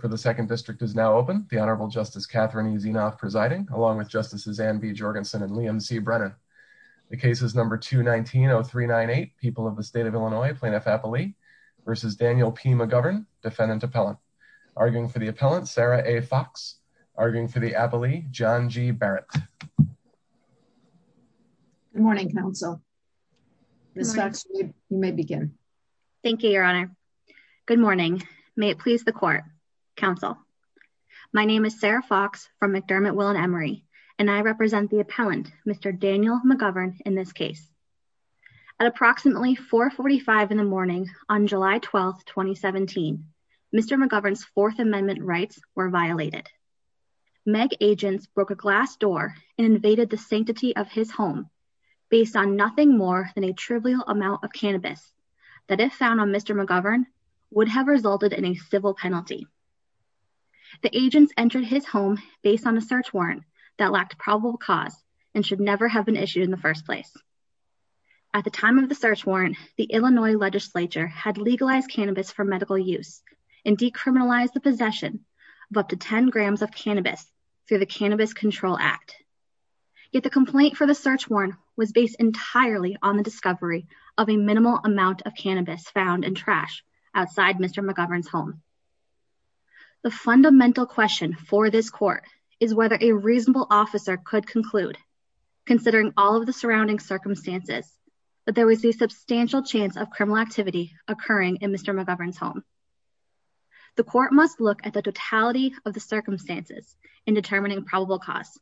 for the second district is now open. The Honorable Justice Catherine is enough presiding along with justices and be Jorgensen and Liam C. Brennan. The case is number two 190398 people of the state of Illinois plaintiff happily versus Daniel P. McGovern defendant appellant arguing for the appellant Sarah A. Fox arguing for the appellee John G. Barrett. Good morning counsel. This actually may begin. Thank you, Your Honor. Good morning. May it please the court counsel. My name is Sarah Fox from McDermott will and Emery and I represent the appellant Mr Daniel McGovern in this case at approximately 4 45 in the morning on July 12 2017 Mr McGovern's Fourth Amendment rights were violated. Meg agents broke a glass door invaded the sanctity of his home based on nothing more than a trivial amount of cannabis that if found on Mr McGovern would have resulted in a civil penalty. The agents entered his home based on a search warrant that lacked probable cause and should never have been issued in the first place. At the time of the search warrant, the Illinois legislature had legalized cannabis for medical use and decriminalized the possession of up to 10 grams of cannabis through the complaint for the search warrant was based entirely on the discovery of a minimal amount of cannabis found in trash outside Mr McGovern's home. The fundamental question for this court is whether a reasonable officer could conclude considering all of the surrounding circumstances, but there was a substantial chance of criminal activity occurring in Mr McGovern's home. The court must look at the totality of the circumstances in determining probable cause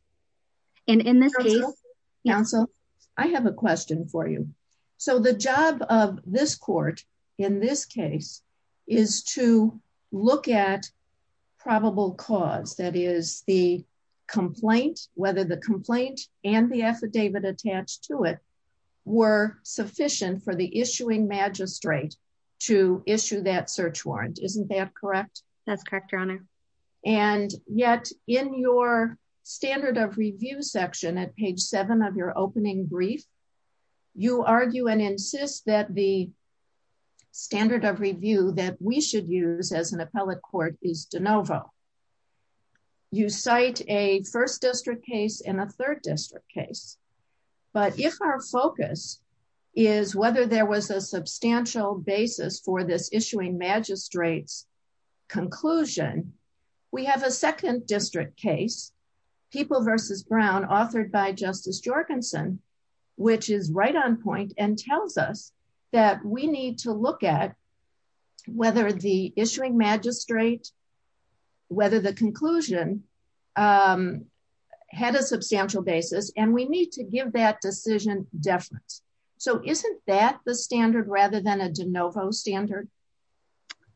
and in the council, I have a question for you. So the job of this court, in this case, is to look at probable cause that is the complaint, whether the complaint and the affidavit attached to it were sufficient for the issuing magistrate to issue that search warrant. Isn't that correct? That's correct, your honor. And yet in your standard of review section at page seven of your opening brief, you argue and insist that the standard of review that we should use as an appellate court is de novo. You cite a first district case and a third district case, but if our focus is whether there was a substantial basis for this issuing magistrates conclusion, we have a second district case people versus Brown authored by Justice Jorgensen, which is right on point and tells us that we need to look at whether the issuing magistrate, whether the conclusion had a substantial basis and we need to give that decision deference. So isn't that the standard rather than a de novo standard?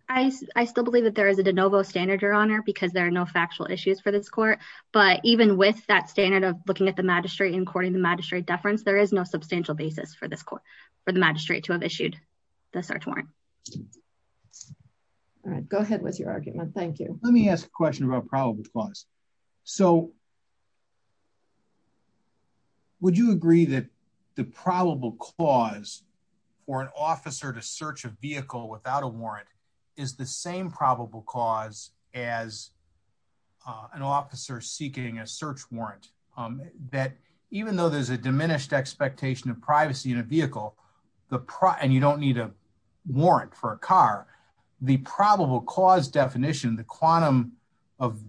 I, I still believe that there is a de novo standard, your honor, because there are no factual issues for this court. But even with that standard of looking at the magistrate and courting the magistrate deference, there is no substantial basis for this court for the magistrate to have issued the search warrant. All right, go ahead with your argument. Thank you. Let me ask a question about probable cause. So would you agree that the probable cause for an officer to search a vehicle without a warrant is the same probable cause as an officer seeking a search warrant that even though there's a diminished expectation of privacy in a vehicle, the PR and you don't need a warrant for a car, the probable cause definition, the quantum of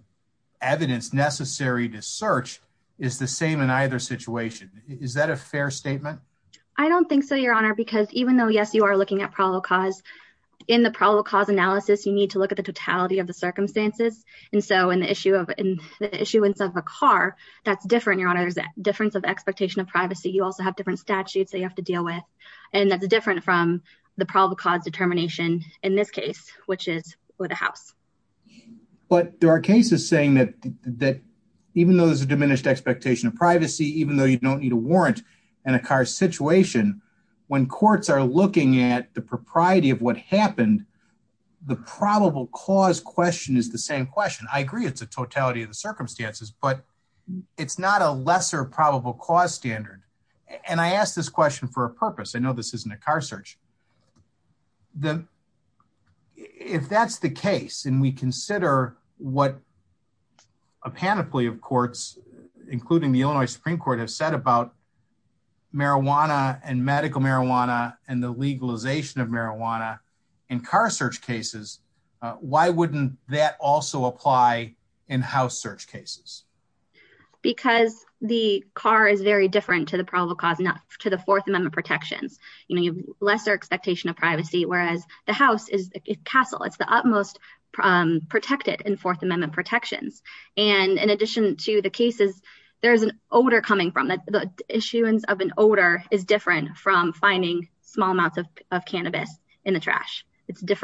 evidence necessary to search is the same in either situation. Is that a fair statement? I don't think so, your honor, because even though yes, you are looking at probable cause in the probable cause analysis, you need to look at the totality of the circumstances. And so in the issue of the issuance of a car, that's different. Your honor, there's a difference of expectation of privacy. You also have different statutes that you have to deal with. And that's different from the probable cause determination in this case, which is for the house. But there are cases saying that even though there's a diminished expectation of privacy, even though you don't need a warrant in a car situation, when courts are looking at the propriety of what happened, the probable cause question is the same question. I agree it's a totality of the circumstances, but it's not a lesser probable cause standard. And I asked this question for a purpose. I know this isn't a car search. If that's the case, and we consider what a panoply of courts, including the Illinois Supreme Court have said about marijuana and medical marijuana and the legalization of marijuana in car search cases, why wouldn't that also apply in house search cases? Because the car is very different to the probable cause, not to the Fourth Amendment protections. You have lesser expectation of privacy, whereas the house is a castle. It's the utmost protected in Fourth Amendment protections. And in addition to the cases, there's an odor coming from that. The issuance of an odor is different from finding small amounts of cannabis in the trash. It's Hill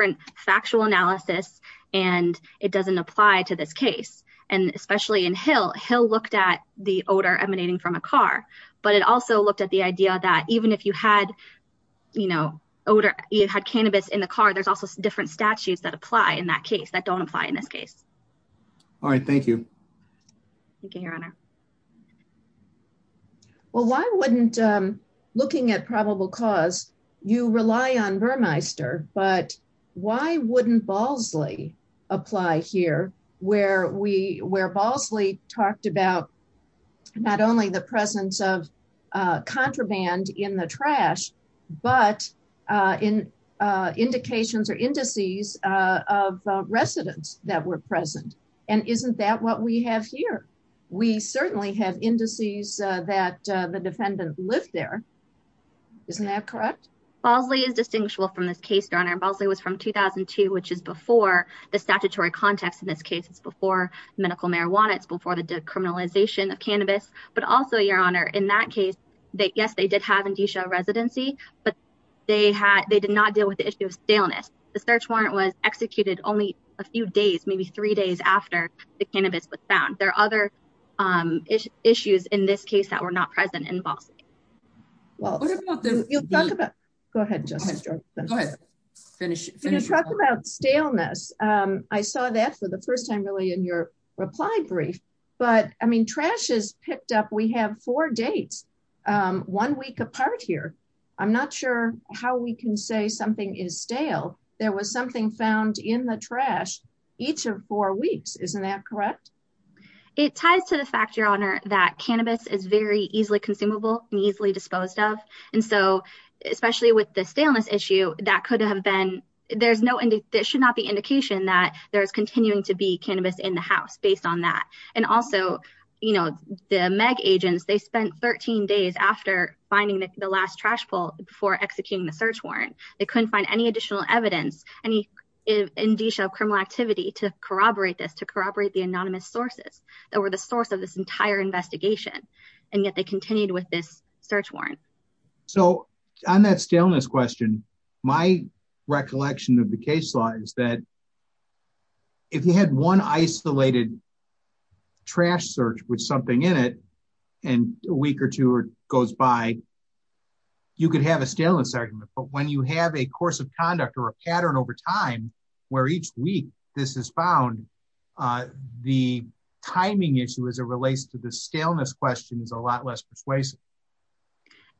looked at the odor emanating from a car, but it also looked at the idea that even if you had cannabis in the car, there's also different statutes that apply in that case that don't apply in this case. All right. Thank you. Thank you, Your Honor. Well, why wouldn't looking at probable cause, you rely on Vermeister, but why wouldn't Balsley apply here where Balsley talked about not only the presence of contraband in the trash, but in indications or indices of residents that were present? And isn't that what we have here? We certainly have indices that the defendant lived there. Isn't that correct? Balsley is distinguishable from this case, Your Honor. Balsley was from 2002, which is before the statutory context. In this case, it's before medical marijuana. It's before the decriminalization of cannabis. But also, Your Honor, in that case, yes, they did have a residency, but they did not deal with the issue of staleness. The search warrant was executed only a few days, maybe three days after the cannabis was found. There are other issues in this case that were not present in Balsley. Well, you'll talk about. Go ahead, Justice George. Go ahead. Finish. Finish. You're going to talk about staleness. I saw that for the first time, really, in your reply brief. But I mean, trash is picked up. We have four dates, one week apart here. I'm not sure how we can say something is stale. There was something found in the trash each of four weeks. Isn't that correct? It ties to the fact, Your Honor, that cannabis is very easily consumable and easily disposed of. And so especially with the staleness issue, that could have been there's no there should not be indication that there is continuing to be cannabis in the house based on that. And also, you know, the meg agents, they spent 13 days after finding the last trash poll before executing the search warrant. They couldn't find any additional evidence, any indicia of criminal activity to corroborate this to corroborate the anonymous sources that were the source of this entire investigation. And yet they continued with this search warrant. So on that staleness question, my recollection of the case law is that if you had one isolated trash search with something in it, and a week or two or goes by, you could have a staleness argument. But when you have a course of conduct or a pattern over time, where each week this is found, the timing issue as it relates to the staleness question is a lot less persuasive.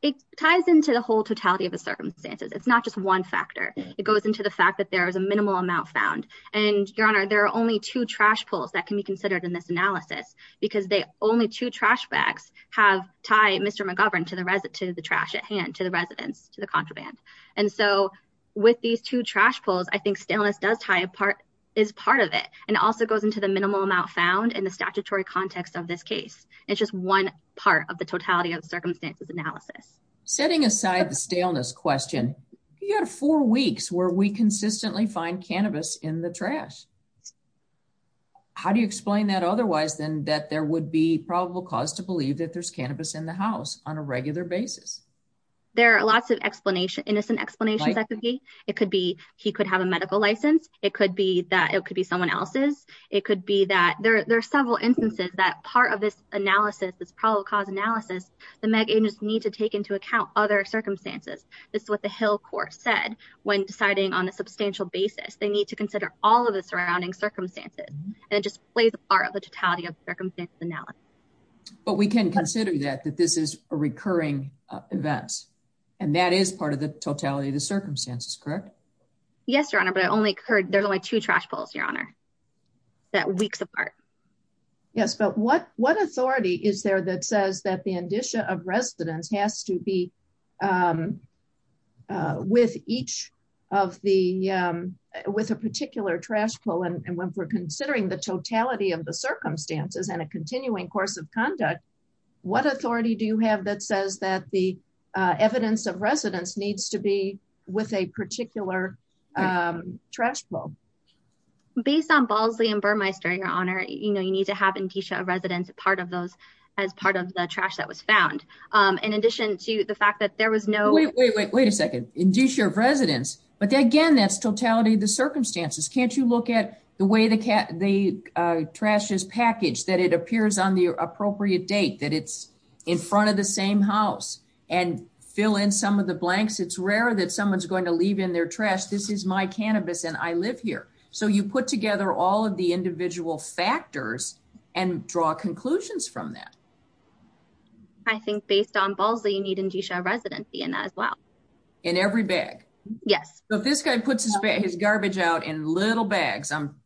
It ties into the whole totality of the circumstances. It's not just one factor, it goes into the fact that there is a minimal amount found. And Your Honor, there are only two trash pulls that can be considered in this analysis, because they only two trash bags have tied Mr. McGovern to the resident to the trash at hand to residents to the contraband. And so with these two trash pulls, I think staleness does tie a part is part of it and also goes into the minimal amount found in the statutory context of this case. It's just one part of the totality of circumstances analysis. Setting aside the staleness question, you had four weeks where we consistently find cannabis in the trash. How do you explain that? Otherwise, then that there would be probable cause to lots of explanation, innocent explanations. It could be he could have a medical license. It could be that it could be someone else's. It could be that there are several instances that part of this analysis is probable cause analysis. The medians need to take into account other circumstances. This is what the Hill court said when deciding on a substantial basis, they need to consider all of the surrounding circumstances. And it just plays a part of the totality of circumstances analysis. But we can consider that, that this is a recurring event and that is part of the totality of the circumstances, correct? Yes, your honor, but I only heard there's only two trash pulls your honor that weeks apart. Yes. But what, what authority is there that says that the indicia of residence has to be, um, uh, with each of the, um, with a particular trash pull. And when we're considering the totality of the circumstances and a continuing course of conduct, what authority do you have that says that the, uh, evidence of residence needs to be with a particular, um, trash bowl based on Bosley and Burmeister, your honor, you know, you need to have indicia of residence, a part of those as part of the trash that was found. Um, in addition to the fact that there was no, wait, wait, wait a second, indicia of residence, but again, that's the totality of the circumstances. Can't you look at the way the cat, the, uh, trash is packaged, that it appears on the appropriate date that it's in front of the same house and fill in some of the blanks. It's rare that someone's going to leave in their trash. This is my cannabis and I live here. So you put together all of the individual factors and draw conclusions from that. I think based on balls that you need indicia residency and as well in every bag. Yes. So if this guy puts his, his garbage out in little bags, um,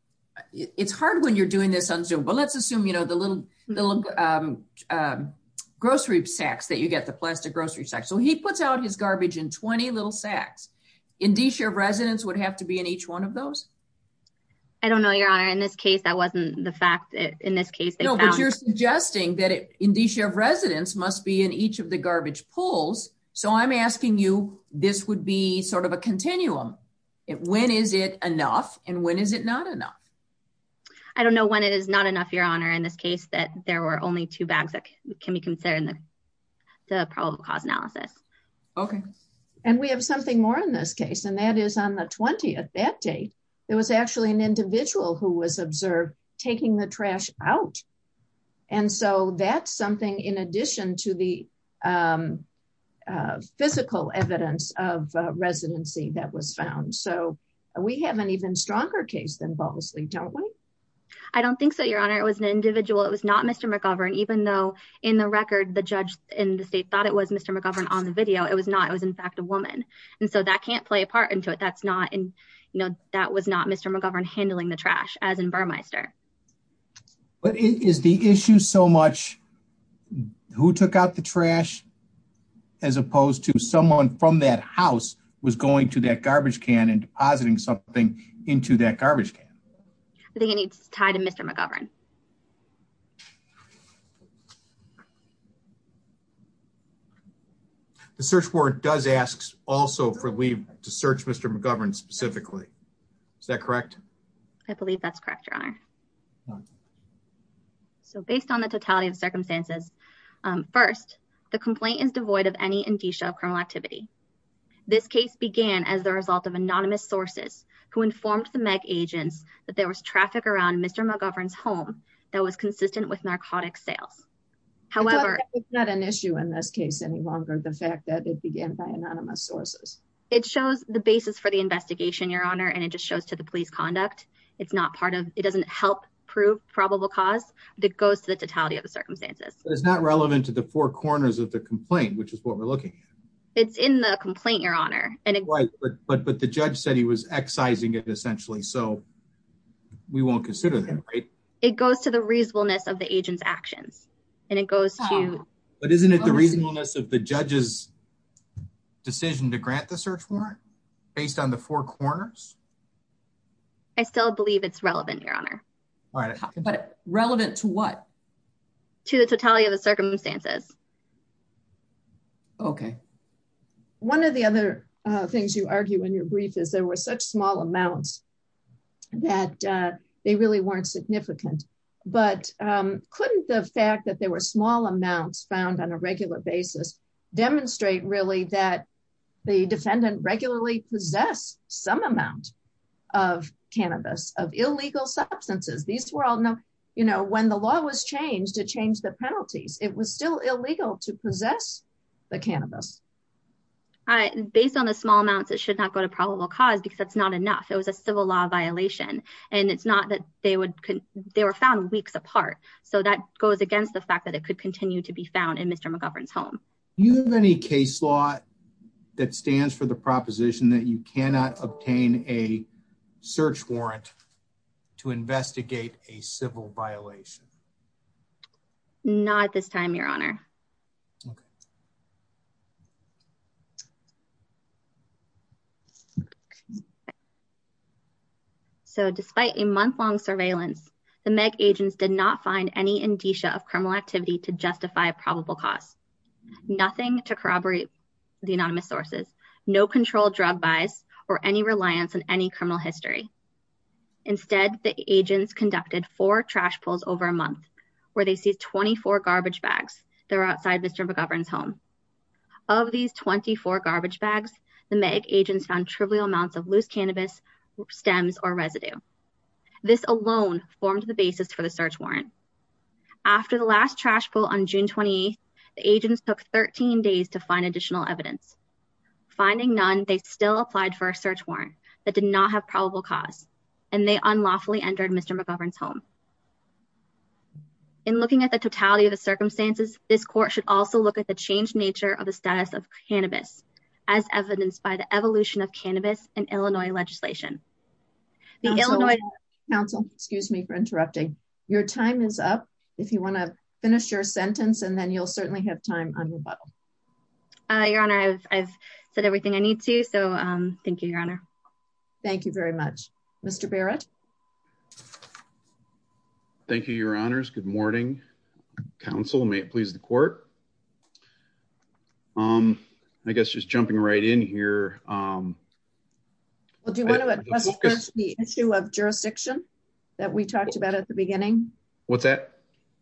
it's hard when you're doing this on zoom, but let's assume, you know, the little, the little, um, um, grocery sacks that you get the plastic grocery section. So he puts out his garbage in 20 little sacks indicia of residence would have to be in each one of those. I don't know your honor. In this case, that wasn't the fact that in this case, they found you're suggesting that indicia of residence must be in each of the garbage pulls. So I'm asking you, this would be sort of a continuum. When is it enough? And when is it not enough? I don't know when it is not enough, your honor, in this case, that there were only two bags that can be considered in the, the probable cause analysis. Okay. And we have something more in this case, and that is on the 20th, that date, there was actually an individual who was observed taking the trash out. And so that's something in addition to the, um, uh, physical evidence of, uh, residency that was found. So we have an even stronger case than Bosley. Don't we? I don't think so. Your honor. It was an individual. It was not Mr. McGovern, even though in the record, the judge in the state thought it was Mr. McGovern on the video. It was not, it was in fact a woman. And so that can't play a part into it. That's not in, you know, that was not Mr. McGovern handling the trash as in Burmeister. But is the issue so much who took out the trash as opposed to someone from that house was going to that garbage can and depositing something into that garbage can. I think it needs to tie to Mr. McGovern. The search warrant does asks also for leave to search Mr. McGovern specifically. Is that correct? I believe that's correct. Your honor. So based on the totality of circumstances, um, first the complaint is devoid of any indicia of criminal activity. This case began as the result of anonymous sources who informed the meg agents that there was traffic around Mr. McGovern's home that was consistent with narcotic sales. However, it's not an issue in this case, any longer. The fact that it began by anonymous sources, it shows the basis for the investigation, your honor. And it just shows to the police conduct. It's not part of, it doesn't help prove probable cause that goes to the totality of the circumstances, but it's not relevant to the four corners of the complaint, which is what we're looking at. It's in the complaint, your honor. And it was, but, but, but the judge said he was excising it essentially. So we won't consider that, right? It goes to the reasonableness of the agent's actions and it goes to, but isn't it the reasonableness of the judge's decision to grant the search warrant based on the four corners? I still believe it's relevant, your honor, but relevant to what? To the totality of the circumstances. Okay. One of the other things you argue in your brief is there was such small amounts that they really weren't significant. But couldn't the fact that there were small amounts found on a regular basis, demonstrate really that the defendant regularly possess some amount of cannabis of illegal substances. These were all no, you know, when the law was changed to change the penalties, it was still illegal to possess the cannabis. All right. Based on the small amounts, it should not go to probable cause because that's not enough. It was a civil law violation and it's not that they would, they were found weeks apart. So that goes against the fact that it could continue to be found in Mr. McGovern's home. Do you have any case law that stands for the proposition that you cannot obtain a search warrant to investigate a civil violation? Not this time, your honor. Okay. So despite a month long surveillance, the Meg agents did not find any indicia of criminal activity to justify probable cause. Nothing to corroborate the anonymous sources, no control drug buys or any reliance on any criminal history. Instead, the agents conducted four trash pulls over a month where they see 24 garbage bags. They're outside Mr. McGovern's home. Of these 24 garbage bags, the Meg agents found trivial amounts of loose cannabis, stems or residue. This alone formed the basis for the search warrant. After the last trash pull on June 28th, the agents took 13 days to find additional evidence. Finding none, they still applied for a search warrant that did not have probable cause and they unlawfully entered Mr. McGovern's home. In looking at the totality of the circumstances, this court should also look at the change in the nature of the status of cannabis as evidenced by the evolution of cannabis in Illinois legislation. The Illinois- Counsel, excuse me for interrupting. Your time is up. If you want to finish your sentence, and then you'll certainly have time on rebuttal. Your honor, I've said everything I need to. So thank you, your honor. Thank you very much. Mr. Barrett. Thank you, your honors. Good morning. Counsel, may it please the court. Um, I guess just jumping right in here. Um, Well, do you want to address the issue of jurisdiction that we talked about at the beginning? What's that?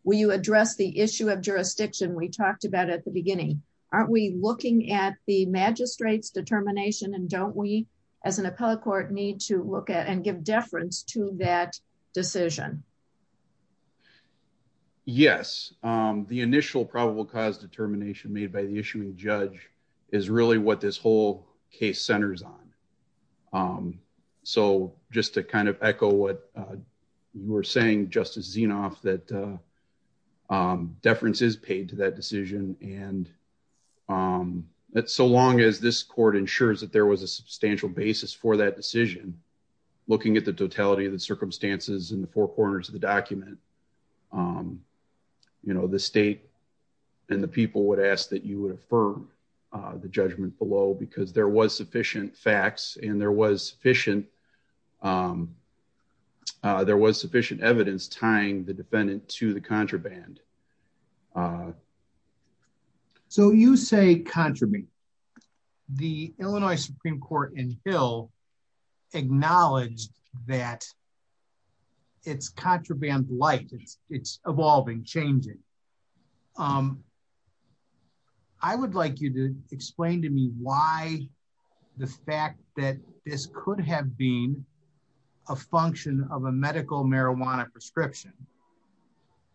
Will you address the issue of jurisdiction we talked about at the beginning? Aren't we looking at the magistrate's determination and don't we as an appellate court need to look at and give deference to that decision? Yes. Um, the initial probable cause determination made by the issuing judge is really what this whole case centers on. Um, so just to kind of echo what, uh, you were saying, Justice Zinoff, that, uh, um, deference is paid to that decision. And, um, so long as this court ensures that there was a substantial basis for that decision, looking at the totality of the circumstances in the four corners of the document, um, you know, the state and the people would ask that you would affirm, uh, the judgment below because there was sufficient facts and there was sufficient, um, uh, there was sufficient evidence tying the defendant to the contraband. Uh, so you say contraband, the Illinois Supreme Court in Hill acknowledged that it's contraband light. It's evolving, changing. Um, I would like you to explain to me why the fact that this could have been a function of a medical marijuana prescription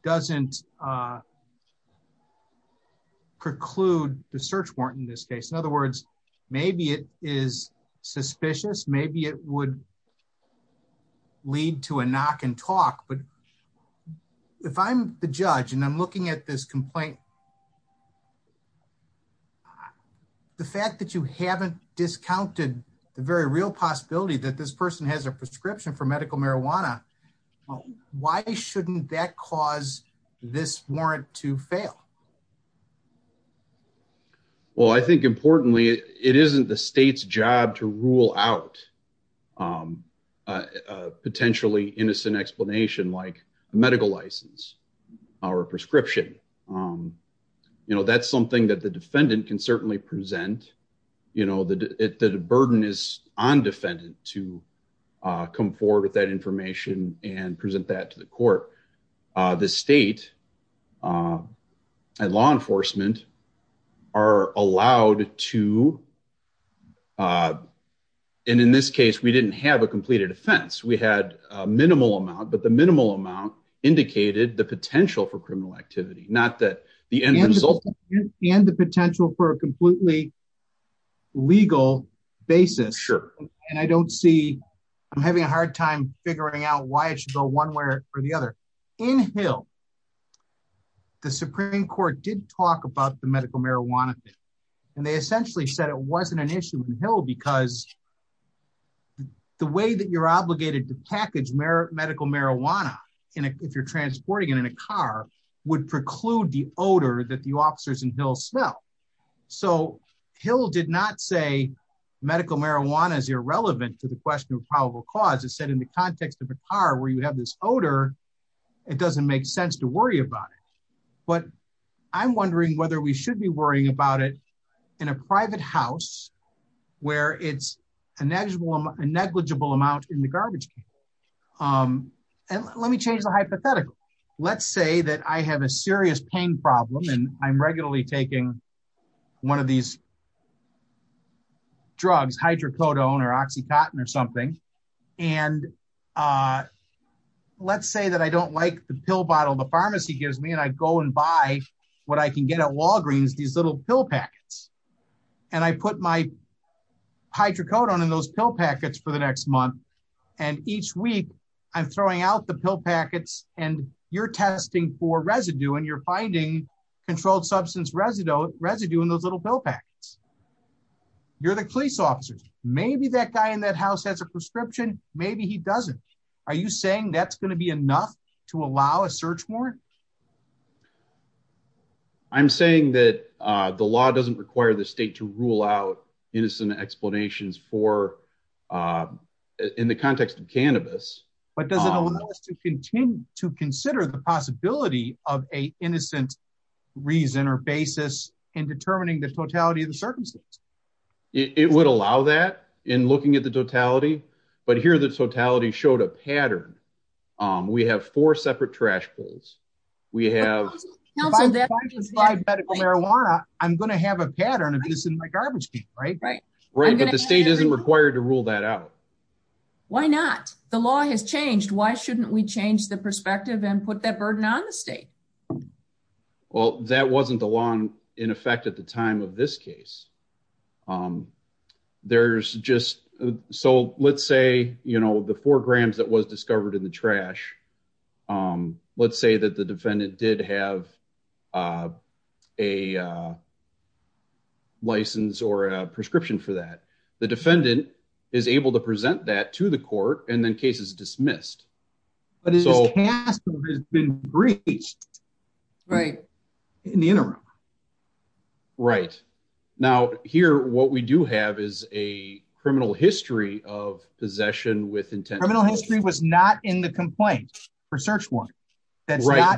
doesn't, uh, preclude the search warrant in this case. In other words, maybe it is suspicious. Maybe it would lead to a knock and talk. But if I'm the judge and I'm looking at this complaint, the fact that you haven't discounted the very real possibility that this person has a prescription for medical marijuana, why shouldn't that cause this warrant to fail? Well, I think importantly, it, it isn't the state's job to rule out, um, uh, uh, potentially innocent explanation like a medical license or a prescription. Um, you know, that's something that the defendant can certainly present, you know, the, the, the burden is on defendant to, uh, come forward with that information and present that to the court. Uh, the state, um, and law enforcement are allowed to, uh, and in this case, we didn't have a completed offense. We had a minimal amount, but the minimal amount indicated the potential for criminal activity, not that the end result and the potential for a completely legal basis. And I don't see, I'm having a hard time figuring out why it should go one way or the other inhale. The Supreme court did talk about the medical marijuana thing, and they essentially said it wasn't an issue with Hill because the way that you're obligated to package Mer medical marijuana in a, if you're transporting it in a car would preclude the odor that the officers in Hill smell. So Hill did not say medical marijuana is irrelevant to the question of probable cause. It said in the context of a car where you have this odor, it doesn't make sense to worry about it. But I'm wondering whether we should be worrying about it in a private house where it's a negligible amount in the garbage. Um, and let me change the hypothetical. Let's say that I have a serious pain problem and I'm regularly taking one of these drugs, hydrocodone or Oxycontin or something. And, uh, let's say that I don't like the pill bottle. The pharmacy gives me and I go and buy what I can get at Walgreens, these little pill packets. And I put my hydrocodone in those pill packets for the next month. And each week I'm throwing out the pill packets and you're testing for residue and you're finding controlled substance residue residue in those little pill packets. You're the police officers. Maybe that guy in that house has a prescription. Maybe he doesn't. Are you saying that's going to be enough to allow a search warrant? I'm saying that, uh, the law doesn't require the state to rule out innocent explanations for, uh, in the context of cannabis. But does it allow us to continue to consider the possibility of a innocent reason or basis in determining the totality of the circumstances? It would allow that in looking at the totality, but here the totality showed a pose. We have medical marijuana. I'm going to have a pattern of this in my garbage, right? But the state isn't required to rule that out. Why not? The law has changed. Why shouldn't we change the perspective and put that burden on the state? Well, that wasn't the law in effect at the time of this case. Um, there's just, so let's say, you know, the four grams that was let's say that the defendant did have, uh, a, uh, license or a prescription for that. The defendant is able to present that to the court and then case is dismissed, but it's all been breached, right? In the interim. Right now here, what we do have is a criminal history of possession with intent. Criminal history was not in the complaint for search warrant. That's right.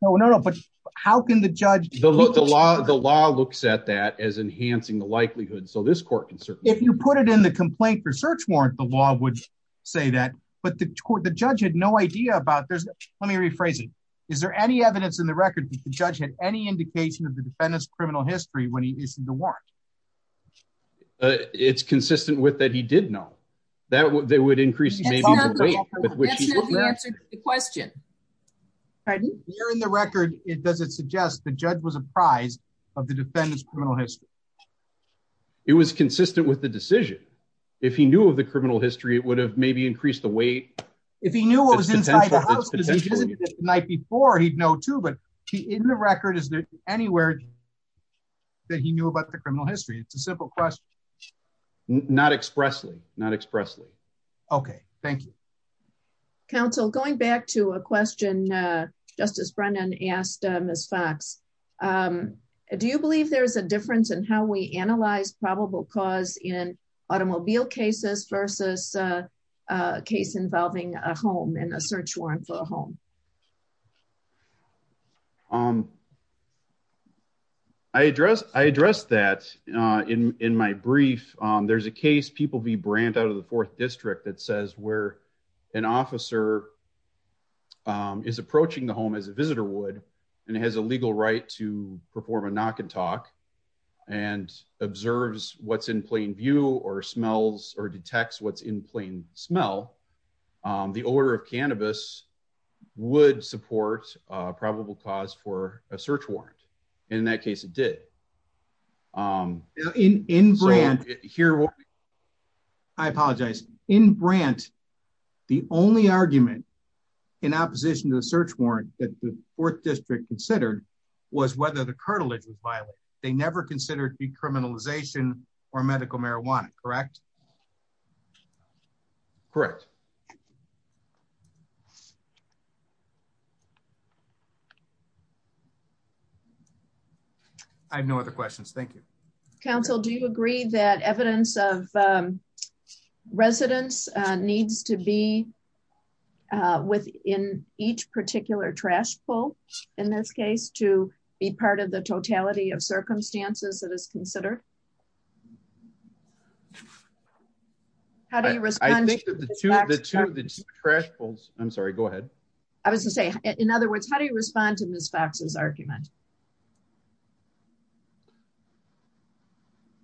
No, no, no. But how can the judge, the law, the law looks at that as enhancing the likelihood. So this court can certainly, if you put it in the complaint for search warrant, the law would say that, but the court, the judge had no idea about there's, let me rephrase it. Is there any evidence in the record that the judge had any indication of the defendant's criminal history when he is in the war? Uh, it's consistent with that. He did know that they would increase maybe the weight with which he looked at the question. Here in the record, it doesn't suggest the judge was apprised of the defendant's criminal history. It was consistent with the decision. If he knew of the criminal history, it would have maybe increased the weight. If he knew what was inside the house because he visited the night before, he'd know too, but he, in the record, is there anywhere that he knew about the criminal history? It's a simple question. Not expressly, not expressly. Okay. Thank you. Counsel, going back to a question, uh, justice Brennan asked, uh, Ms. Fox, um, do you believe there's a difference in how we analyze probable cause in automobile cases versus, uh, uh, case involving a home and a search warrant for a home? Um, I address, I addressed that, uh, in, in my brief. Um, there's a case people be brand out of the fourth district that says where an officer, um, is approaching the home as a visitor would, and it has a legal right to perform a knock and talk and observes what's in plain view or smells or detects what's in plain smell. Um, the order of cannabis would support a probable cause for a search warrant. In that case, it did. Um, in, in brand here, I apologize in brand, the only argument in opposition to the search warrant that the fourth district considered was whether the cartilage was violent. They never correct. I have no other questions. Thank you. Counsel, do you agree that evidence of, um, residents, uh, needs to be, uh, within each particular trash pull in this case to be part of the totality of circumstances that is considered. How do you respond to the two trash pulls? I'm sorry. Go ahead. I was going to say, in other words, how do you respond to Ms. Fox's argument?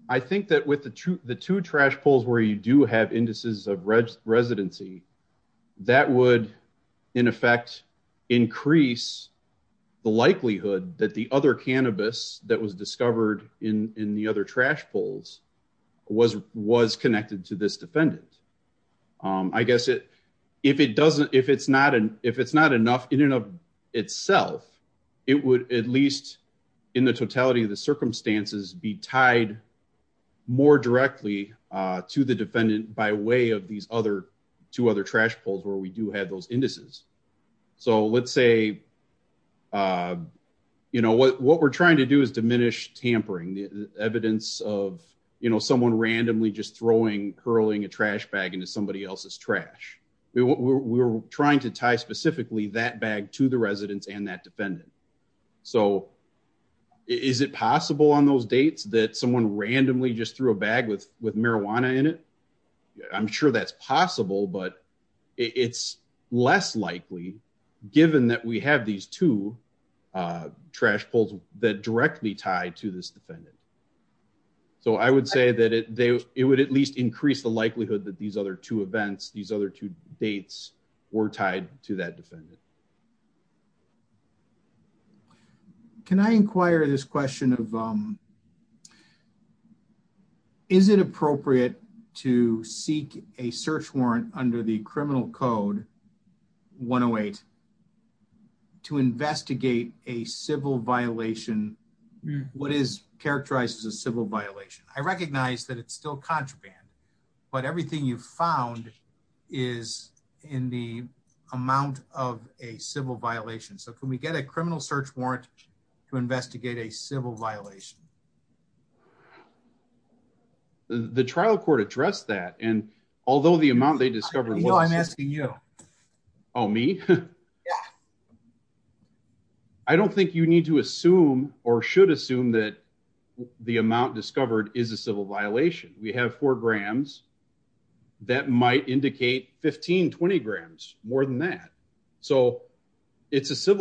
I think that with the two, the two trash pulls where you do have indices of red residency, that would in effect increase the likelihood that the other cannabis that was discovered in, in the other trash pulls was, was connected to this defendant. Um, I guess it, if it doesn't, if it's not an, if it's not enough in and of itself, it would at least in the totality of the circumstances be tied more directly, uh, to the defendant by way of these other two other trash pulls where we do have those indices. So let's say, uh, you know, what, we're trying to do is diminish tampering the evidence of, you know, someone randomly just throwing, curling a trash bag into somebody else's trash. We were trying to tie specifically that bag to the residents and that defendant. So is it possible on those dates that someone randomly just threw a bag with, with marijuana in it? I'm sure that's possible, but it's less likely given that we have these two, uh, trash pulls that directly tied to this defendant. So I would say that it, they, it would at least increase the likelihood that these other two events, these other two dates were tied to that defendant. Can I inquire this question of, um, is it appropriate to seek a search warrant under the criminal code 108 to investigate a civil violation? What is characterized as a civil violation? I recognize that it's still contraband, but everything you've found is in the amount of a civil violation. So can we get a criminal search warrant to investigate a civil violation? The trial court addressed that. And although the amount they discovered, Oh, me. I don't think you need to assume or should assume that the amount discovered is a civil violation. We have four grams that might indicate 15, 20 grams more than that. So it's a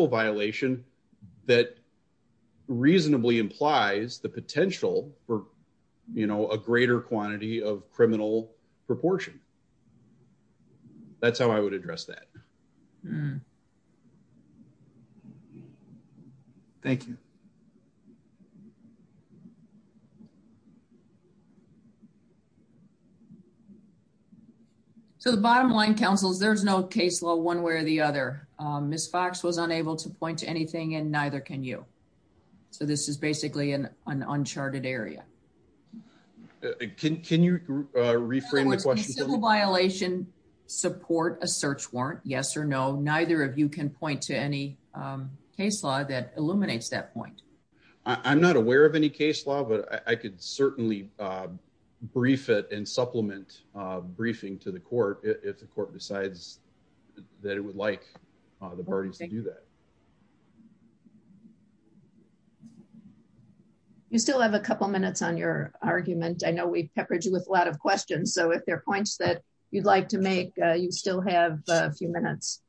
you know, a greater quantity of criminal proportion. That's how I would address that. Thank you. So the bottom line councils, there's no case law one way or the other. Um, Ms. Fox was unable to point to anything and neither can you. So this is basically an, uncharted area. Can you reframe the question? Civil violation support a search warrant? Yes or no. Neither of you can point to any, um, case law that illuminates that point. I'm not aware of any case law, but I could certainly, uh, brief it and supplement, uh, briefing to the court. If the court decides that it would like the parties to do that. You still have a couple minutes on your argument. I know we've peppered you with a lot of questions. So if there are points that you'd like to make, you still have a few minutes.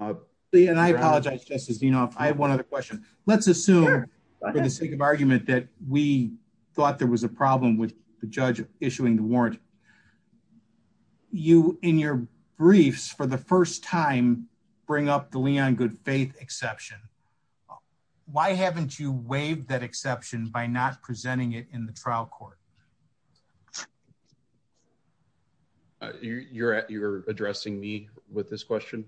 Uh, and I apologize, Justice Dino. I have one other question. Let's assume for the sake of argument that we thought there was a problem with the judge issuing the warrant. You in your briefs the first time bring up the Leon good faith exception. Why haven't you waived that exception by not presenting it in the trial court? You're at, you're addressing me with this question.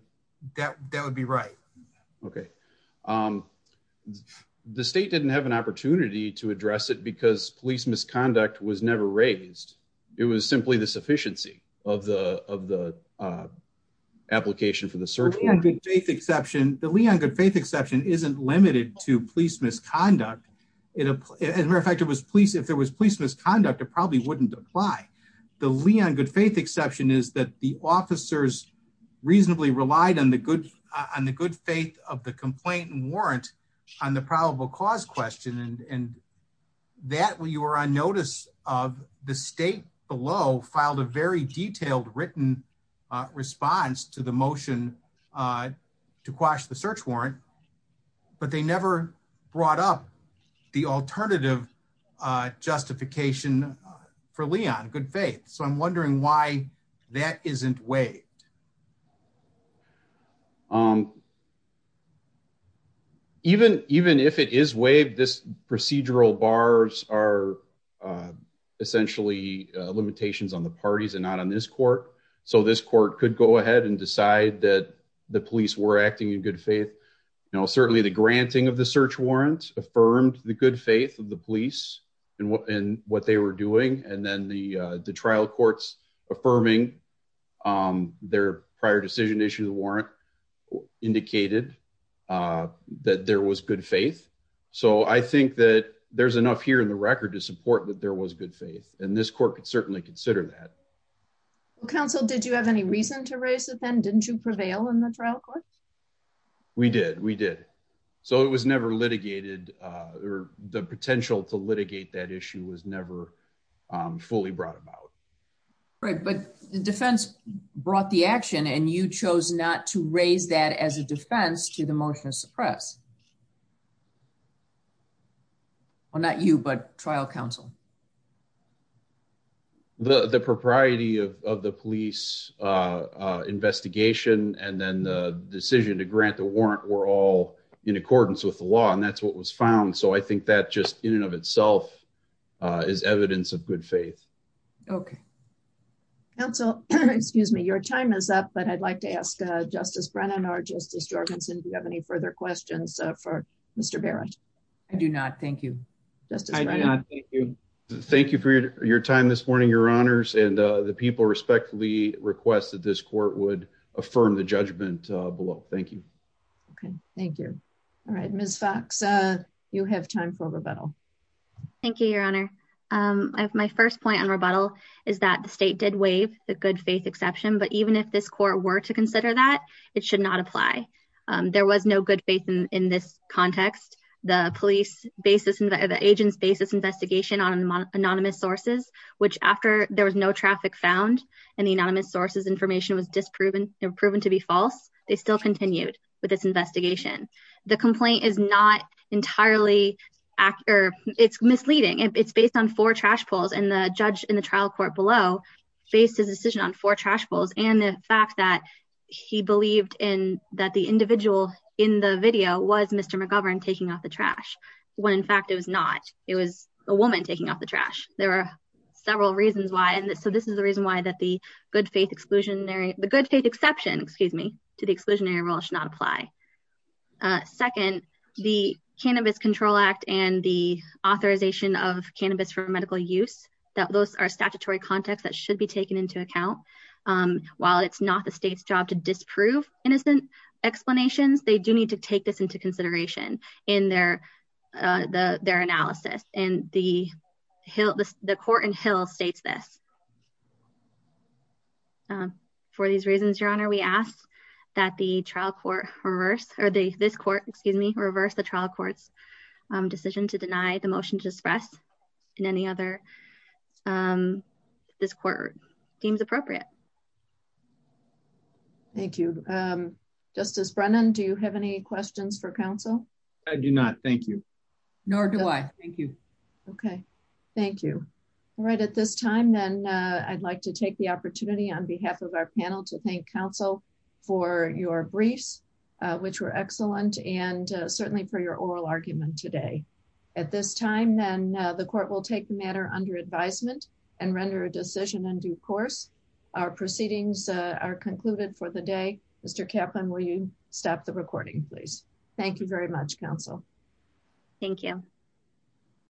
That would be right. Okay. Um, the state didn't have an opportunity to address it because police misconduct was never raised. It was simply the sufficiency of the, of the, uh, application for the search. The Leon good faith exception isn't limited to police misconduct. It, as a matter of fact, it was police. If there was police misconduct, it probably wouldn't apply. The Leon good faith exception is that the officers reasonably relied on the good, on the good faith of the complaint on the probable cause question. And that when you were on notice of the state below filed a very detailed written response to the motion, uh, to quash the search warrant, but they never brought up the alternative, uh, justification for Leon good faith. So I'm wondering why that isn't way. Um, even, even if it is waived, this procedural bars are, uh, essentially, uh, limitations on the parties and not on this court. So this court could go ahead and decide that the police were acting in good faith. You know, certainly the granting of the search warrant affirmed the good faith of the police and what, and what they were doing. And then the, uh, the their prior decision issues warrant indicated, uh, that there was good faith. So I think that there's enough here in the record to support that there was good faith and this court could certainly consider that. Well, counsel, did you have any reason to raise a pen? Didn't you prevail in the trial court? We did, we did. So it was never litigated, uh, or the potential to litigate that issue was never, um, fully brought about. Right. But the defense brought the action and you chose not to raise that as a defense to the motion of suppress. Well, not you, but trial counsel, the propriety of, of the police, uh, uh, investigation, and then the decision to grant the warrant were all in accordance with the law. And that's what was found. So I think that just in and of itself, uh, is evidence of good faith. Okay. Counsel, excuse me, your time is up, but I'd like to ask, uh, justice Brennan or justice Jorgensen. Do you have any further questions for Mr. Barrett? I do not. Thank you. Thank you for your time this morning, your honors, and, uh, the people respectfully request that this court would affirm the judgment below. Thank you. Okay. Thank you. All right, Ms. Fox, uh, you have time for rebuttal. Thank you, your honor. Um, I have my first point on rebuttal is that the state did waive the good faith exception, but even if this court were to consider that it should not apply, um, there was no good faith in, in this context, the police basis and the agents basis investigation on anonymous sources, which after there was no traffic found and the anonymous sources information was disproven and proven to be false. They still is not entirely accurate. It's misleading. It's based on four trash poles and the judge in the trial court below faced his decision on four trash bowls. And the fact that he believed in that the individual in the video was Mr. McGovern taking off the trash when in fact it was not, it was a woman taking off the trash. There were several reasons why. And so this is the reason why that the good faith exclusionary, the good faith exception, excuse me, to the exclusionary should not apply. Uh, second, the cannabis control act and the authorization of cannabis for medical use that those are statutory context that should be taken into account. Um, while it's not the state's job to disprove innocent explanations, they do need to take this into consideration in their, uh, the, their analysis and the Hill, the court in Hill states this. Um, for these reasons, your honor, we ask that the trial court reverse or the, this court, excuse me, reverse the trial courts, um, decision to deny the motion to express in any other, um, this court seems appropriate. Thank you. Um, justice Brennan, do you have any questions for council? I do not. Thank you. Nor do I. Thank you. Okay. Thank you. All right. At this time then, uh, I'd like to take the opportunity on behalf of our panel to thank council for your briefs, uh, which were excellent. And, uh, certainly for your oral argument today at this time, then, uh, the court will take the matter under advisement and render a decision on due course. Our proceedings are concluded for the day. Mr. Kaplan, will you stop the recording please? Thank you very much. Council. Thank you.